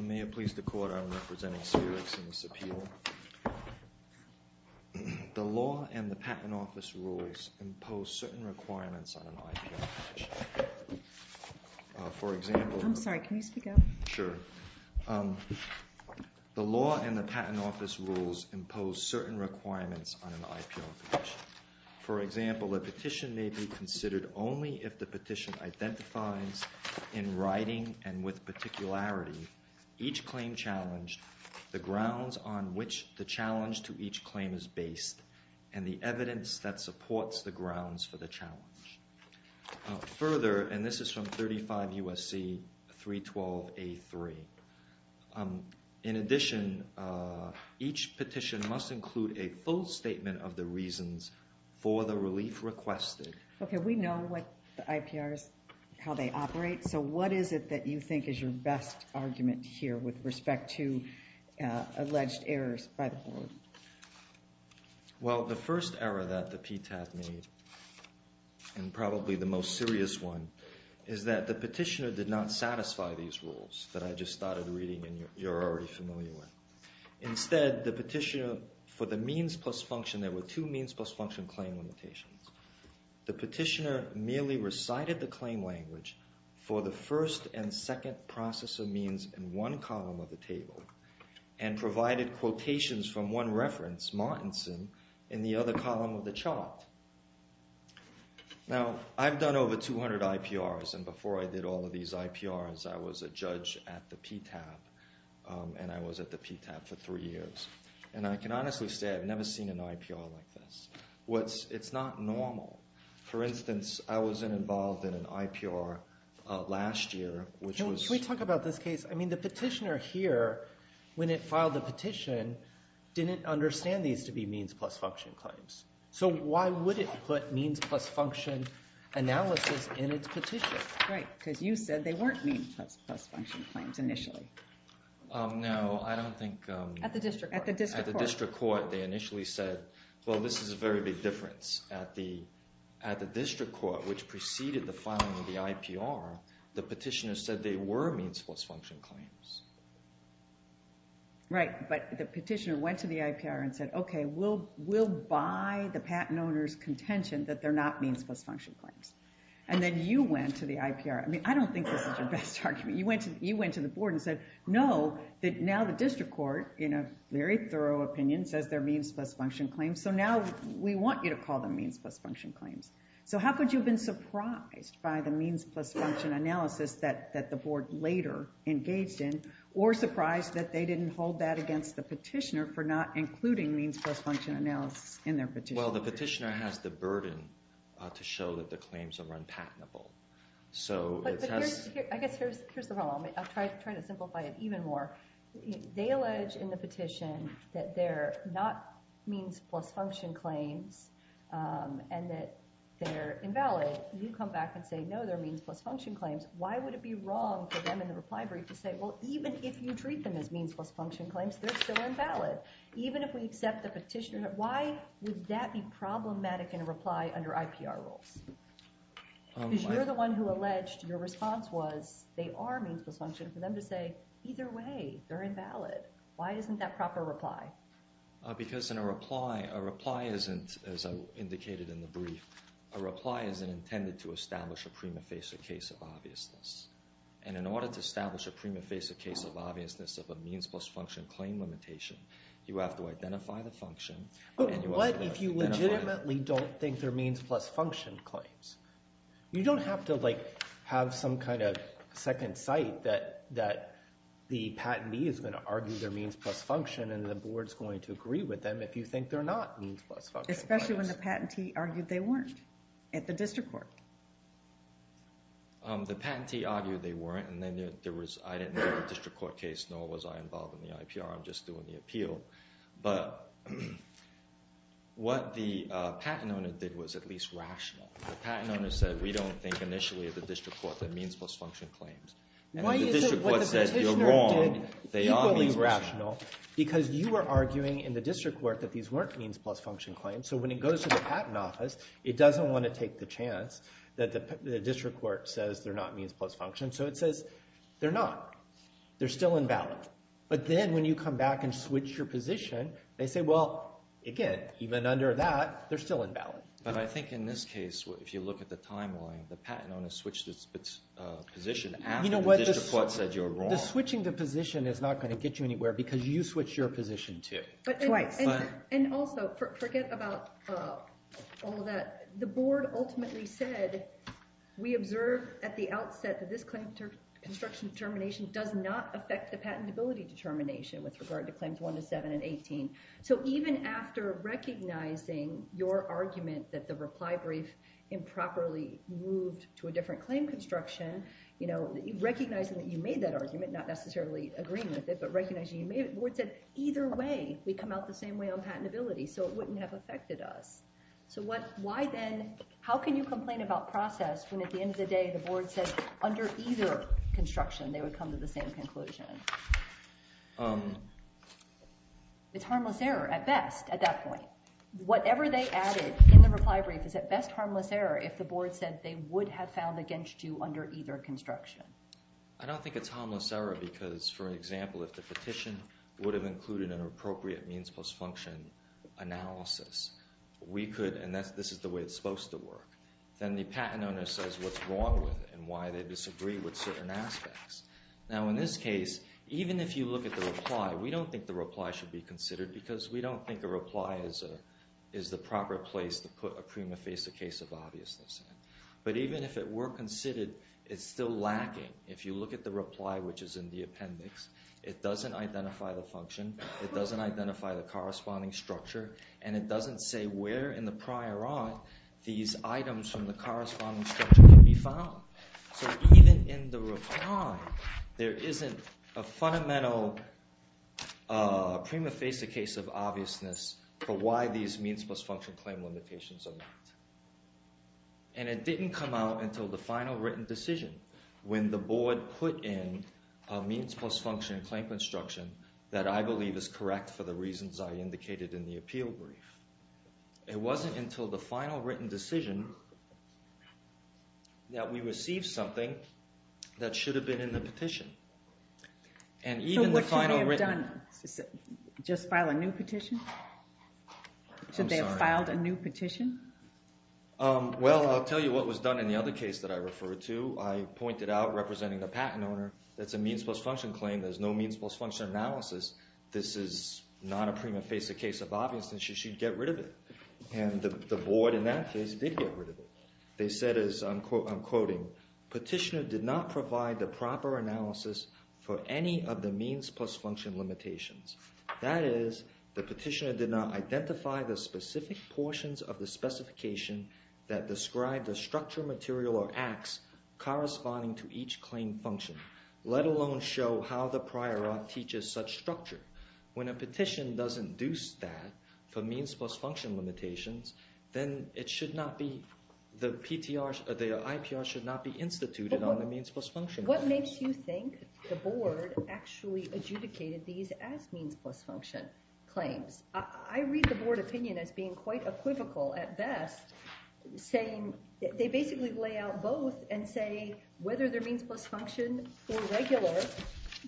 May it please the Court, I am representing Spherix in this appeal. The law and the Patent Office rules impose certain requirements on an IPO hedge. For example... I'm sorry, can you speak up? Sure. The law and the Patent Office rules impose certain requirements on an IPO hedge. For example, a petition may be considered only if the petition identifies in writing and with particularity each claim challenged, the grounds on which the challenge to each claim is based, and the evidence that supports the grounds for the challenge. Further, and this is from 35 U.S.C. 312A3, in addition, each petition must include a full statement of the reasons for the relief requested. Okay, we know what the IPRs, how they operate, so what is it that you think is your best argument here with respect to alleged errors by the Board? Well, the first error that the PTAT made, and probably the most serious one, is that the petitioner did not satisfy these rules that I just started reading and you're already familiar with. Instead, the petitioner, for the means plus function, there were two means plus function claim limitations. The petitioner merely recited the claim language for the first and second process of means in one column of the table and provided quotations from one reference, Martinson, in the other column of the chart. Now, I've done over 200 IPRs, and before I did all of these IPRs, I was a judge at the PTAT, and I was at the PTAT for three years. And I can honestly say I've never seen an IPR like this. It's not normal. For instance, I wasn't involved in an IPR last year, which was- I mean, the petitioner here, when it filed the petition, didn't understand these to be means plus function claims. So why would it put means plus function analysis in its petition? Right, because you said they weren't means plus function claims initially. No, I don't think- At the district court. At the district court, they initially said, well, this is a very big difference. At the district court, which preceded the filing of the IPR, the petitioner said they were means plus function claims. Right, but the petitioner went to the IPR and said, okay, we'll buy the patent owner's contention that they're not means plus function claims. And then you went to the IPR- I mean, I don't think this is your best argument. You went to the board and said, no, that now the district court, in a very thorough opinion, says they're means plus function claims, so now we want you to call them means plus function claims. So how could you have been surprised by the means plus function analysis that the board later engaged in, or surprised that they didn't hold that against the petitioner for not including means plus function analysis in their petition? Well, the petitioner has the burden to show that the claims are unpatentable. So it has- I guess here's the problem. I'll try to simplify it even more. They allege in the petition that they're not means plus function claims, and that they're invalid. You come back and say, no, they're means plus function claims. Why would it be wrong for them in the reply brief to say, well, even if you treat them as means plus function claims, they're still invalid? Even if we accept the petitioner- why would that be problematic in a reply under IPR rules? Because you're the one who alleged your response was they are means plus function, for them to say, either way, they're invalid. Why isn't that proper reply? Because in a reply, a reply isn't, as I indicated in the brief, a reply isn't intended to establish a prima facie case of obviousness. And in order to establish a prima facie case of obviousness of a means plus function claim limitation, you have to identify the function, and you have to identify- But what if you legitimately don't think they're means plus function claims? You don't have to have some kind of second sight that the patentee is going to argue they're means plus function, and the board's going to agree with them if you think they're not means plus function claims. Especially when the patentee argued they weren't at the district court. The patentee argued they weren't, and then there was- I didn't have a district court case, nor was I involved in the IPR. I'm just doing the appeal. But what the patent owner did was at least rational. The patent owner said, we don't think, initially, at the district court, they're means plus function claims. And if the district court says you're wrong, they are means plus function claims. Why is it what the petitioner did equally rational? Because you were arguing in the district court that these weren't means plus function claims. So when it goes to the patent office, it doesn't want to take the chance that the district court says they're not means plus function. So it says they're not. They're still invalid. But then when you come back and switch your position, they say, well, again, even under that, they're still invalid. But I think in this case, if you look at the timeline, the patent owner switched its position after the district court said you're wrong. You know what? The switching the position is not going to get you anywhere because you switched your position too. Twice. And also, forget about all that. The board ultimately said, we observed at the outset that this claim construction determination does not affect the patentability determination with regard to claims 1 to 7 and 18. So even after recognizing your argument that the reply brief improperly moved to a different claim construction, you know, recognizing that you made that argument, not necessarily agreeing with it, but recognizing you made it, the board said, either way, we come out the same way on patentability. So it wouldn't have affected us. So why then, how can you complain about process when at the end of the day, the board said under either construction, they would come to the same conclusion? It's harmless error at best at that point. Whatever they added in the reply brief is at best harmless error if the board said they would have found against you under either construction. I don't think it's harmless error because, for example, if the petition would have included an appropriate means plus function analysis, we could, and this is the way it's supposed to work. Then the patent owner says what's wrong with it and why they disagree with certain aspects. Now in this case, even if you look at the reply, we don't think the reply should be considered because we don't think a reply is the proper place to put a prima facie case of obviousness. But even if it were considered, it's still lacking. If you look at the reply, which is in the appendix, it doesn't identify the function, it doesn't identify the corresponding structure, and it doesn't say where in the prior art these items from the corresponding structure can be found. So even in the reply, there isn't a fundamental prima facie case of obviousness for why these means plus function claim limitations are not. And it didn't come out until the final written decision when the board put in a means plus function claim construction that I believe is correct for the reasons I indicated in the appeal brief. It wasn't until the final written decision that we received something that should have been in the petition. And even the final written... So what should they have done? Just file a new petition? I'm sorry. Should they have filed a new petition? Well, I'll tell you what was done in the other case that I referred to. I pointed out representing the patent owner, that's a means plus function claim, there's no means plus function analysis. This is not a prima facie case of obviousness, you should get rid of it. And the board in that case did get rid of it. They said as I'm quoting, petitioner did not provide the proper analysis for any of the means plus function limitations. That is, the petitioner did not identify the specific portions of the specification that describe the structure, material, or acts corresponding to each claim function, let alone show how the prior act teaches such structure. When a petition does induce that for means plus function limitations, then it should not be, the IPR should not be instituted on the means plus function. What makes you think the board actually adjudicated these as means plus function claims? I read the board opinion as being quite equivocal at best, saying they basically lay out both and say whether they're means plus function or regular,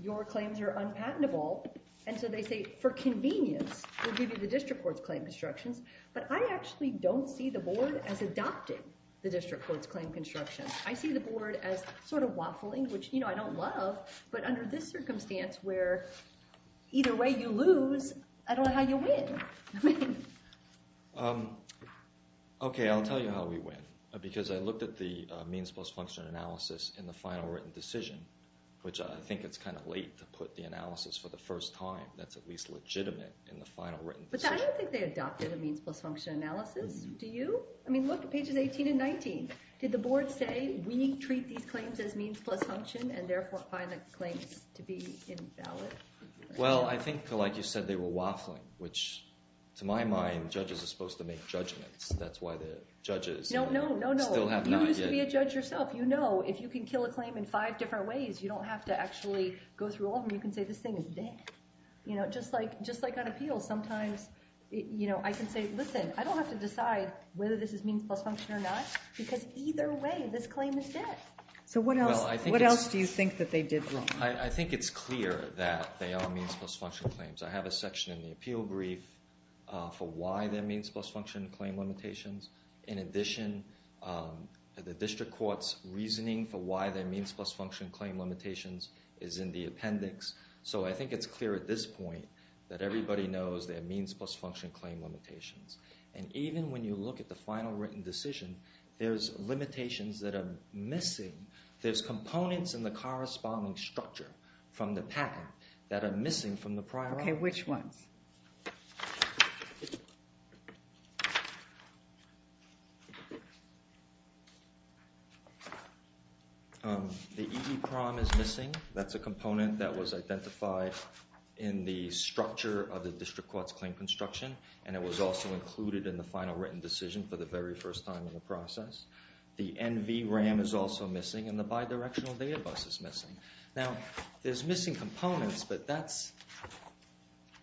your claims are unpatentable. And so they say for convenience, we'll give you the district court's claim constructions. But I actually don't see the board as adopting the district court's claim construction. I see the board as sort of waffling, which I don't love. But under this circumstance where either way you lose, I don't know how you win. Okay, I'll tell you how we win. Because I looked at the means plus function analysis in the final written decision, which I think it's kind of late to put the analysis for the first time that's at least legitimate in the final written decision. But I don't think they adopted a means plus function analysis, do you? I mean, look at pages 18 and 19. Did the board say, we treat these claims as means plus function and therefore find the claims to be invalid? Well, I think like you said, they were waffling, which to my mind, judges are supposed to make judgments. That's why the judges still have not yet. No, no, no, no. You used to be a judge yourself. You know, if you can kill a claim in five different ways, you don't have to actually go through all of them. You can say, this thing is dead. You know, just like on appeals, sometimes I can say, listen, I don't have to decide whether this is means plus function or not, because either way, this claim is dead. So what else do you think that they did wrong? I think it's clear that they are means plus function claims. I have a section in the appeal brief for why they're means plus function claim limitations. In addition, the district court's reasoning for why they're means plus function claim limitations is in the appendix. So I think it's clear at this point that everybody knows they're means plus function claim limitations. And even when you look at the final written decision, there's limitations that are missing. There's components in the corresponding structure from the patent that are missing from the prior argument. OK, which ones? The EEPROM is missing. That's a component that was identified in the structure of the district court's claim construction. And it was also included in the final written decision for the very first time in the process. The NVRAM is also missing, and the bidirectional data bus is missing. Now, there's missing components, but that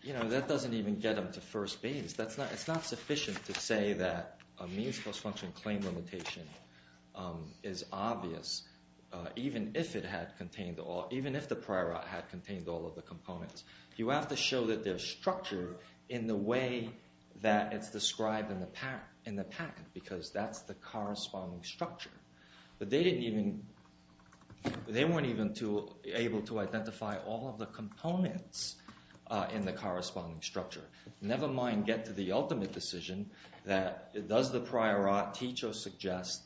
doesn't even get them to first base. It's not sufficient to say that a means plus function claim limitation is obvious, even if the prior art had contained all of the components. You have to show that there's structure in the way that it's described in the patent, because that's the corresponding structure. But they weren't even able to identify all of the components in the corresponding structure. Never mind get to the ultimate decision that does the prior art teach or suggest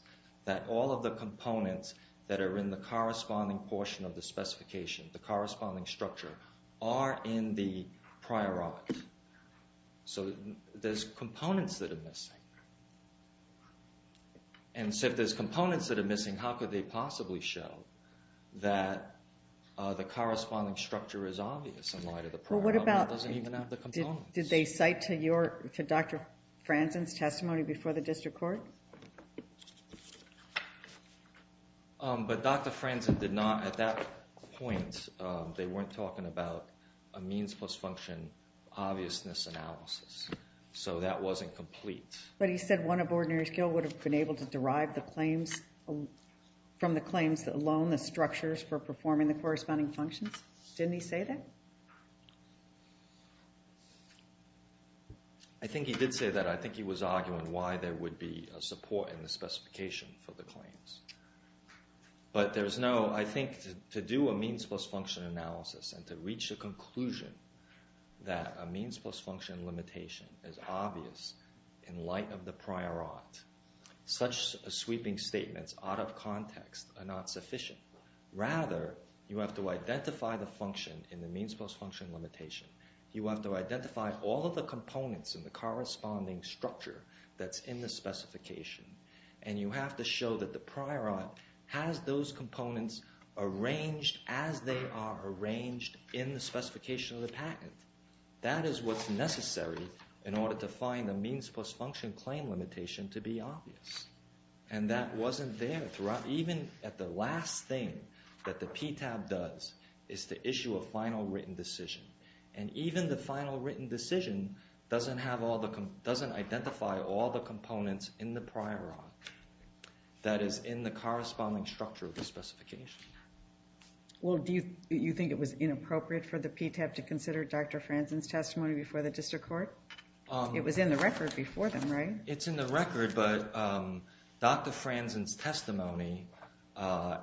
that all of the components that are in the corresponding portion of the specification, the corresponding structure, are in the prior art. So, there's components that are missing. And so, if there's components that are missing, how could they possibly show that the corresponding structure is obvious in light of the prior art that doesn't even have the components? Did they cite to Dr. Franzen's testimony before the district court? But Dr. Franzen did not, at that point, they weren't talking about a means plus function obviousness analysis. So, that wasn't complete. But he said one of ordinary skill would have been able to derive the claims from the claims alone, the structures for performing the corresponding functions. Didn't he say that? I think he did say that. I think he was arguing why there would be a support in the specification for the claims. But there's no, I think, to do a means plus function analysis and to reach a conclusion that a means plus function limitation is obvious in light of the prior art. Such sweeping statements out of context are not sufficient. Rather, you have to identify the function in the means plus function limitation. You have to identify all of the components in the corresponding structure that's in the prior art, has those components arranged as they are arranged in the specification of the patent. That is what's necessary in order to find the means plus function claim limitation to be obvious. And that wasn't there throughout, even at the last thing that the PTAB does is to issue a final written decision. And even the final written decision doesn't identify all the components in the prior art that is in the corresponding structure of the specification. Well, do you think it was inappropriate for the PTAB to consider Dr. Franzen's testimony before the district court? It was in the record before them, right? It's in the record, but Dr. Franzen's testimony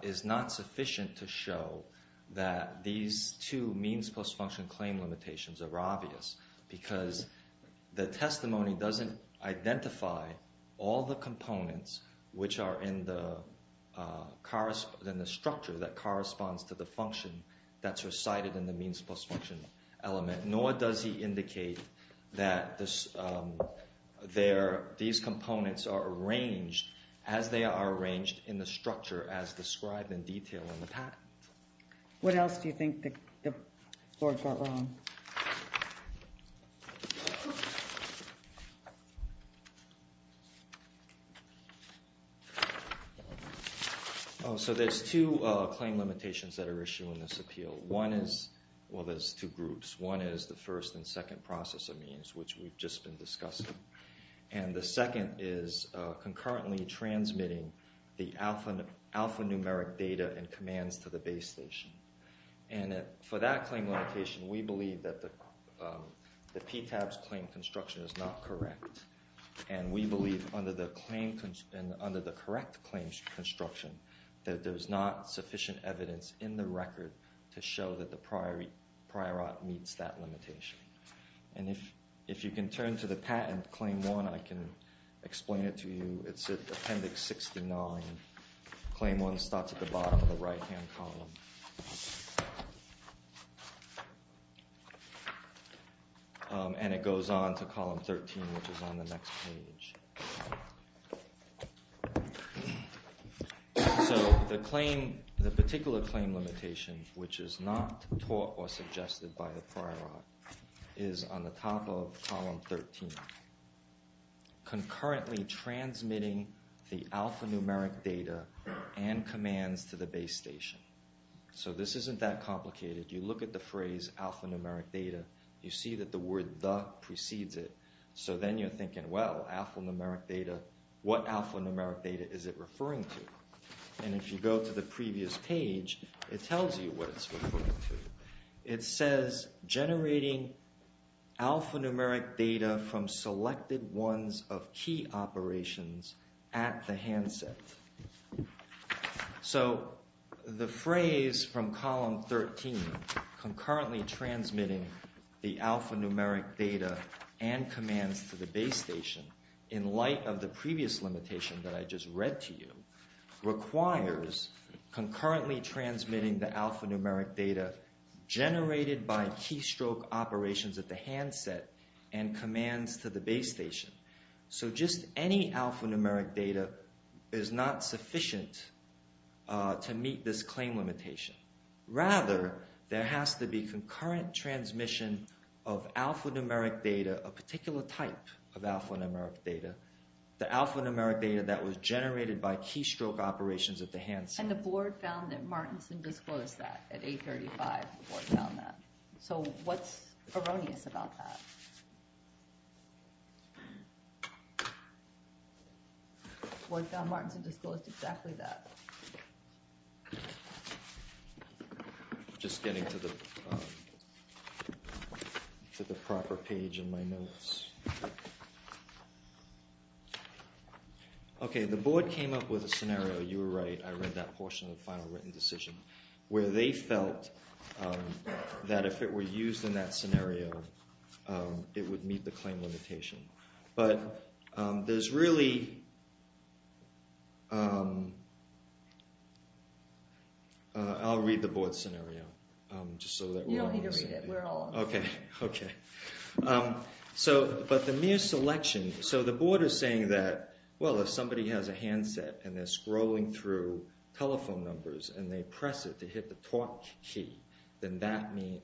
is not sufficient to show that these two means plus function claim limitations are obvious because the testimony doesn't identify all the components which are in the structure that corresponds to the function that's recited in the means plus function element. Nor does he indicate that these components are arranged as they are arranged in the structure as described in detail in the patent. What else do you think the court got wrong? Oh, so there's two claim limitations that are issued in this appeal. One is, well, there's two groups. One is the first and second processor means, which we've just been discussing. And the second is concurrently transmitting the alphanumeric data and commands to the base station. And for that claim limitation, we believe that the PTAB's claim construction is not correct. And we believe under the correct claim construction that there's not sufficient evidence in the record to show that the prior art meets that limitation. And if you can turn to the patent, claim one, I can explain it to you. It's at appendix 69. Claim one starts at the bottom of the right-hand column. And it goes on to column 13, which is on the next page. So the particular claim limitation, which is not taught or suggested by the prior art, is on the top of column 13. Concurrently transmitting the alphanumeric data and commands to the base station. So this isn't that complicated. You look at the phrase alphanumeric data. You see that the word the precedes it. So then you're thinking, well, alphanumeric data, what alphanumeric data is it referring to? And if you go to the previous page, it tells you what it's referring to. It says generating alphanumeric data from selected ones of key operations at the handset. So the phrase from column 13, concurrently transmitting the alphanumeric data and commands to the base station, in light of the previous limitation that I just read to you, requires concurrently transmitting the alphanumeric data generated by keystroke operations at the handset and commands to the base station. So just any alphanumeric data is not sufficient to meet this claim limitation. Rather, there has to be concurrent transmission of alphanumeric data, a particular type of alphanumeric data. The alphanumeric data that was generated by keystroke operations at the handset. And the board found that Martinson disclosed that at 835. The board found that. So what's erroneous about that? The board found Martinson disclosed exactly that. Just getting to the proper page in my notes. Okay, the board came up with a scenario, you were right, I read that portion of the final written decision, where they felt that if it were used in that scenario, it would meet the claim limitation. But there's really... I'll read the board scenario. You don't need to read it, we're all on it. Okay, okay. But the mere selection... So the board is saying that, well, if somebody has a handset and they're scrolling through telephone numbers and they press it to hit the talk key, then that means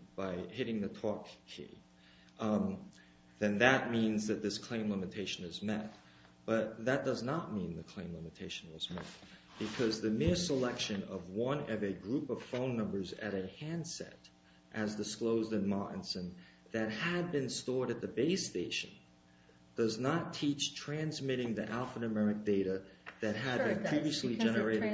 that this claim limitation is met. But that does not mean the claim limitation was met. Because the mere selection of one of a group of phone numbers at a handset, as disclosed in Martinson, that had been stored at the base station, does not teach transmitting the alphanumeric data that had been previously generated. When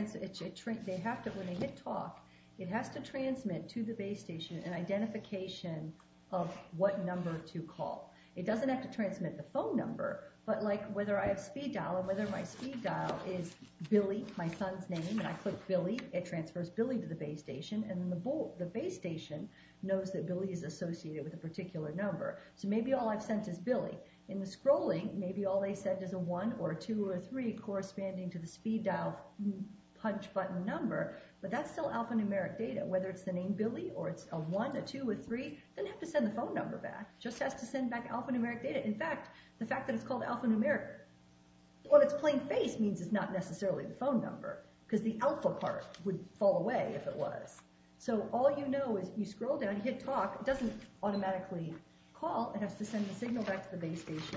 they hit talk, it has to transmit to the base station an identification of what number to call. It doesn't have to transmit the phone number, but whether I have speed dial and whether my speed dial is Billy, my son's name, and I click Billy, it transfers Billy to the base station, and the base station knows that Billy is associated with a particular number. So maybe all I've sent is Billy. In the scrolling, maybe all they sent is a 1 or a 2 or a 3 corresponding to the speed dial punch button number, but that's still alphanumeric data. Whether it's the name Billy, or it's a 1, a 2, a 3, they don't have to send the phone number back. It just has to send back alphanumeric data. In fact, the fact that it's called alphanumeric, what it's plain face means is not necessarily the phone number because the alpha part would fall away if it was. So all you know is you scroll down and hit talk. It doesn't automatically call. It has to send the signal back to the base station,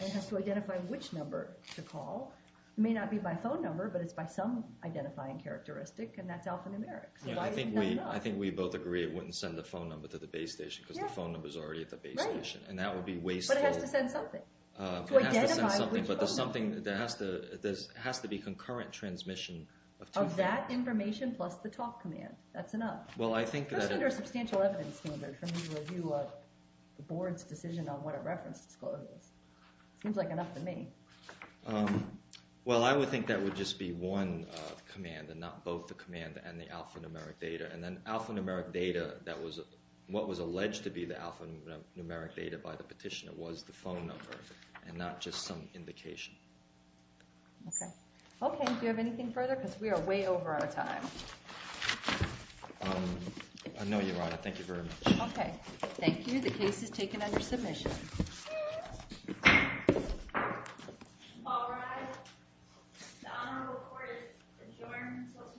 and it has to identify which number to call. It may not be by phone number, but it's by some identifying characteristic, and that's alphanumeric. I think we both agree it wouldn't send the phone number to the base station because the phone number is already at the base station, and that would be wasteful. But it has to send something. To identify which phone number. But there's something that has to be concurrent transmission of two phones. Of that information plus the talk command. That's enough. Well, I think that it- It's under a substantial evidence standard for me to review the board's decision on what it referenced. It seems like enough to me. Well, I would think that would just be one command and not both the command and the alphanumeric data. And then alphanumeric data, what was alleged to be the alphanumeric data by the petitioner was the phone number and not just some indication. Okay. Okay, do you have anything further? Because we are way over our time. I know, Your Honor. Thank you very much. Okay. Thank you. The case is taken under submission. All rise. The honorable court is adjourned until tomorrow at 4 a.m.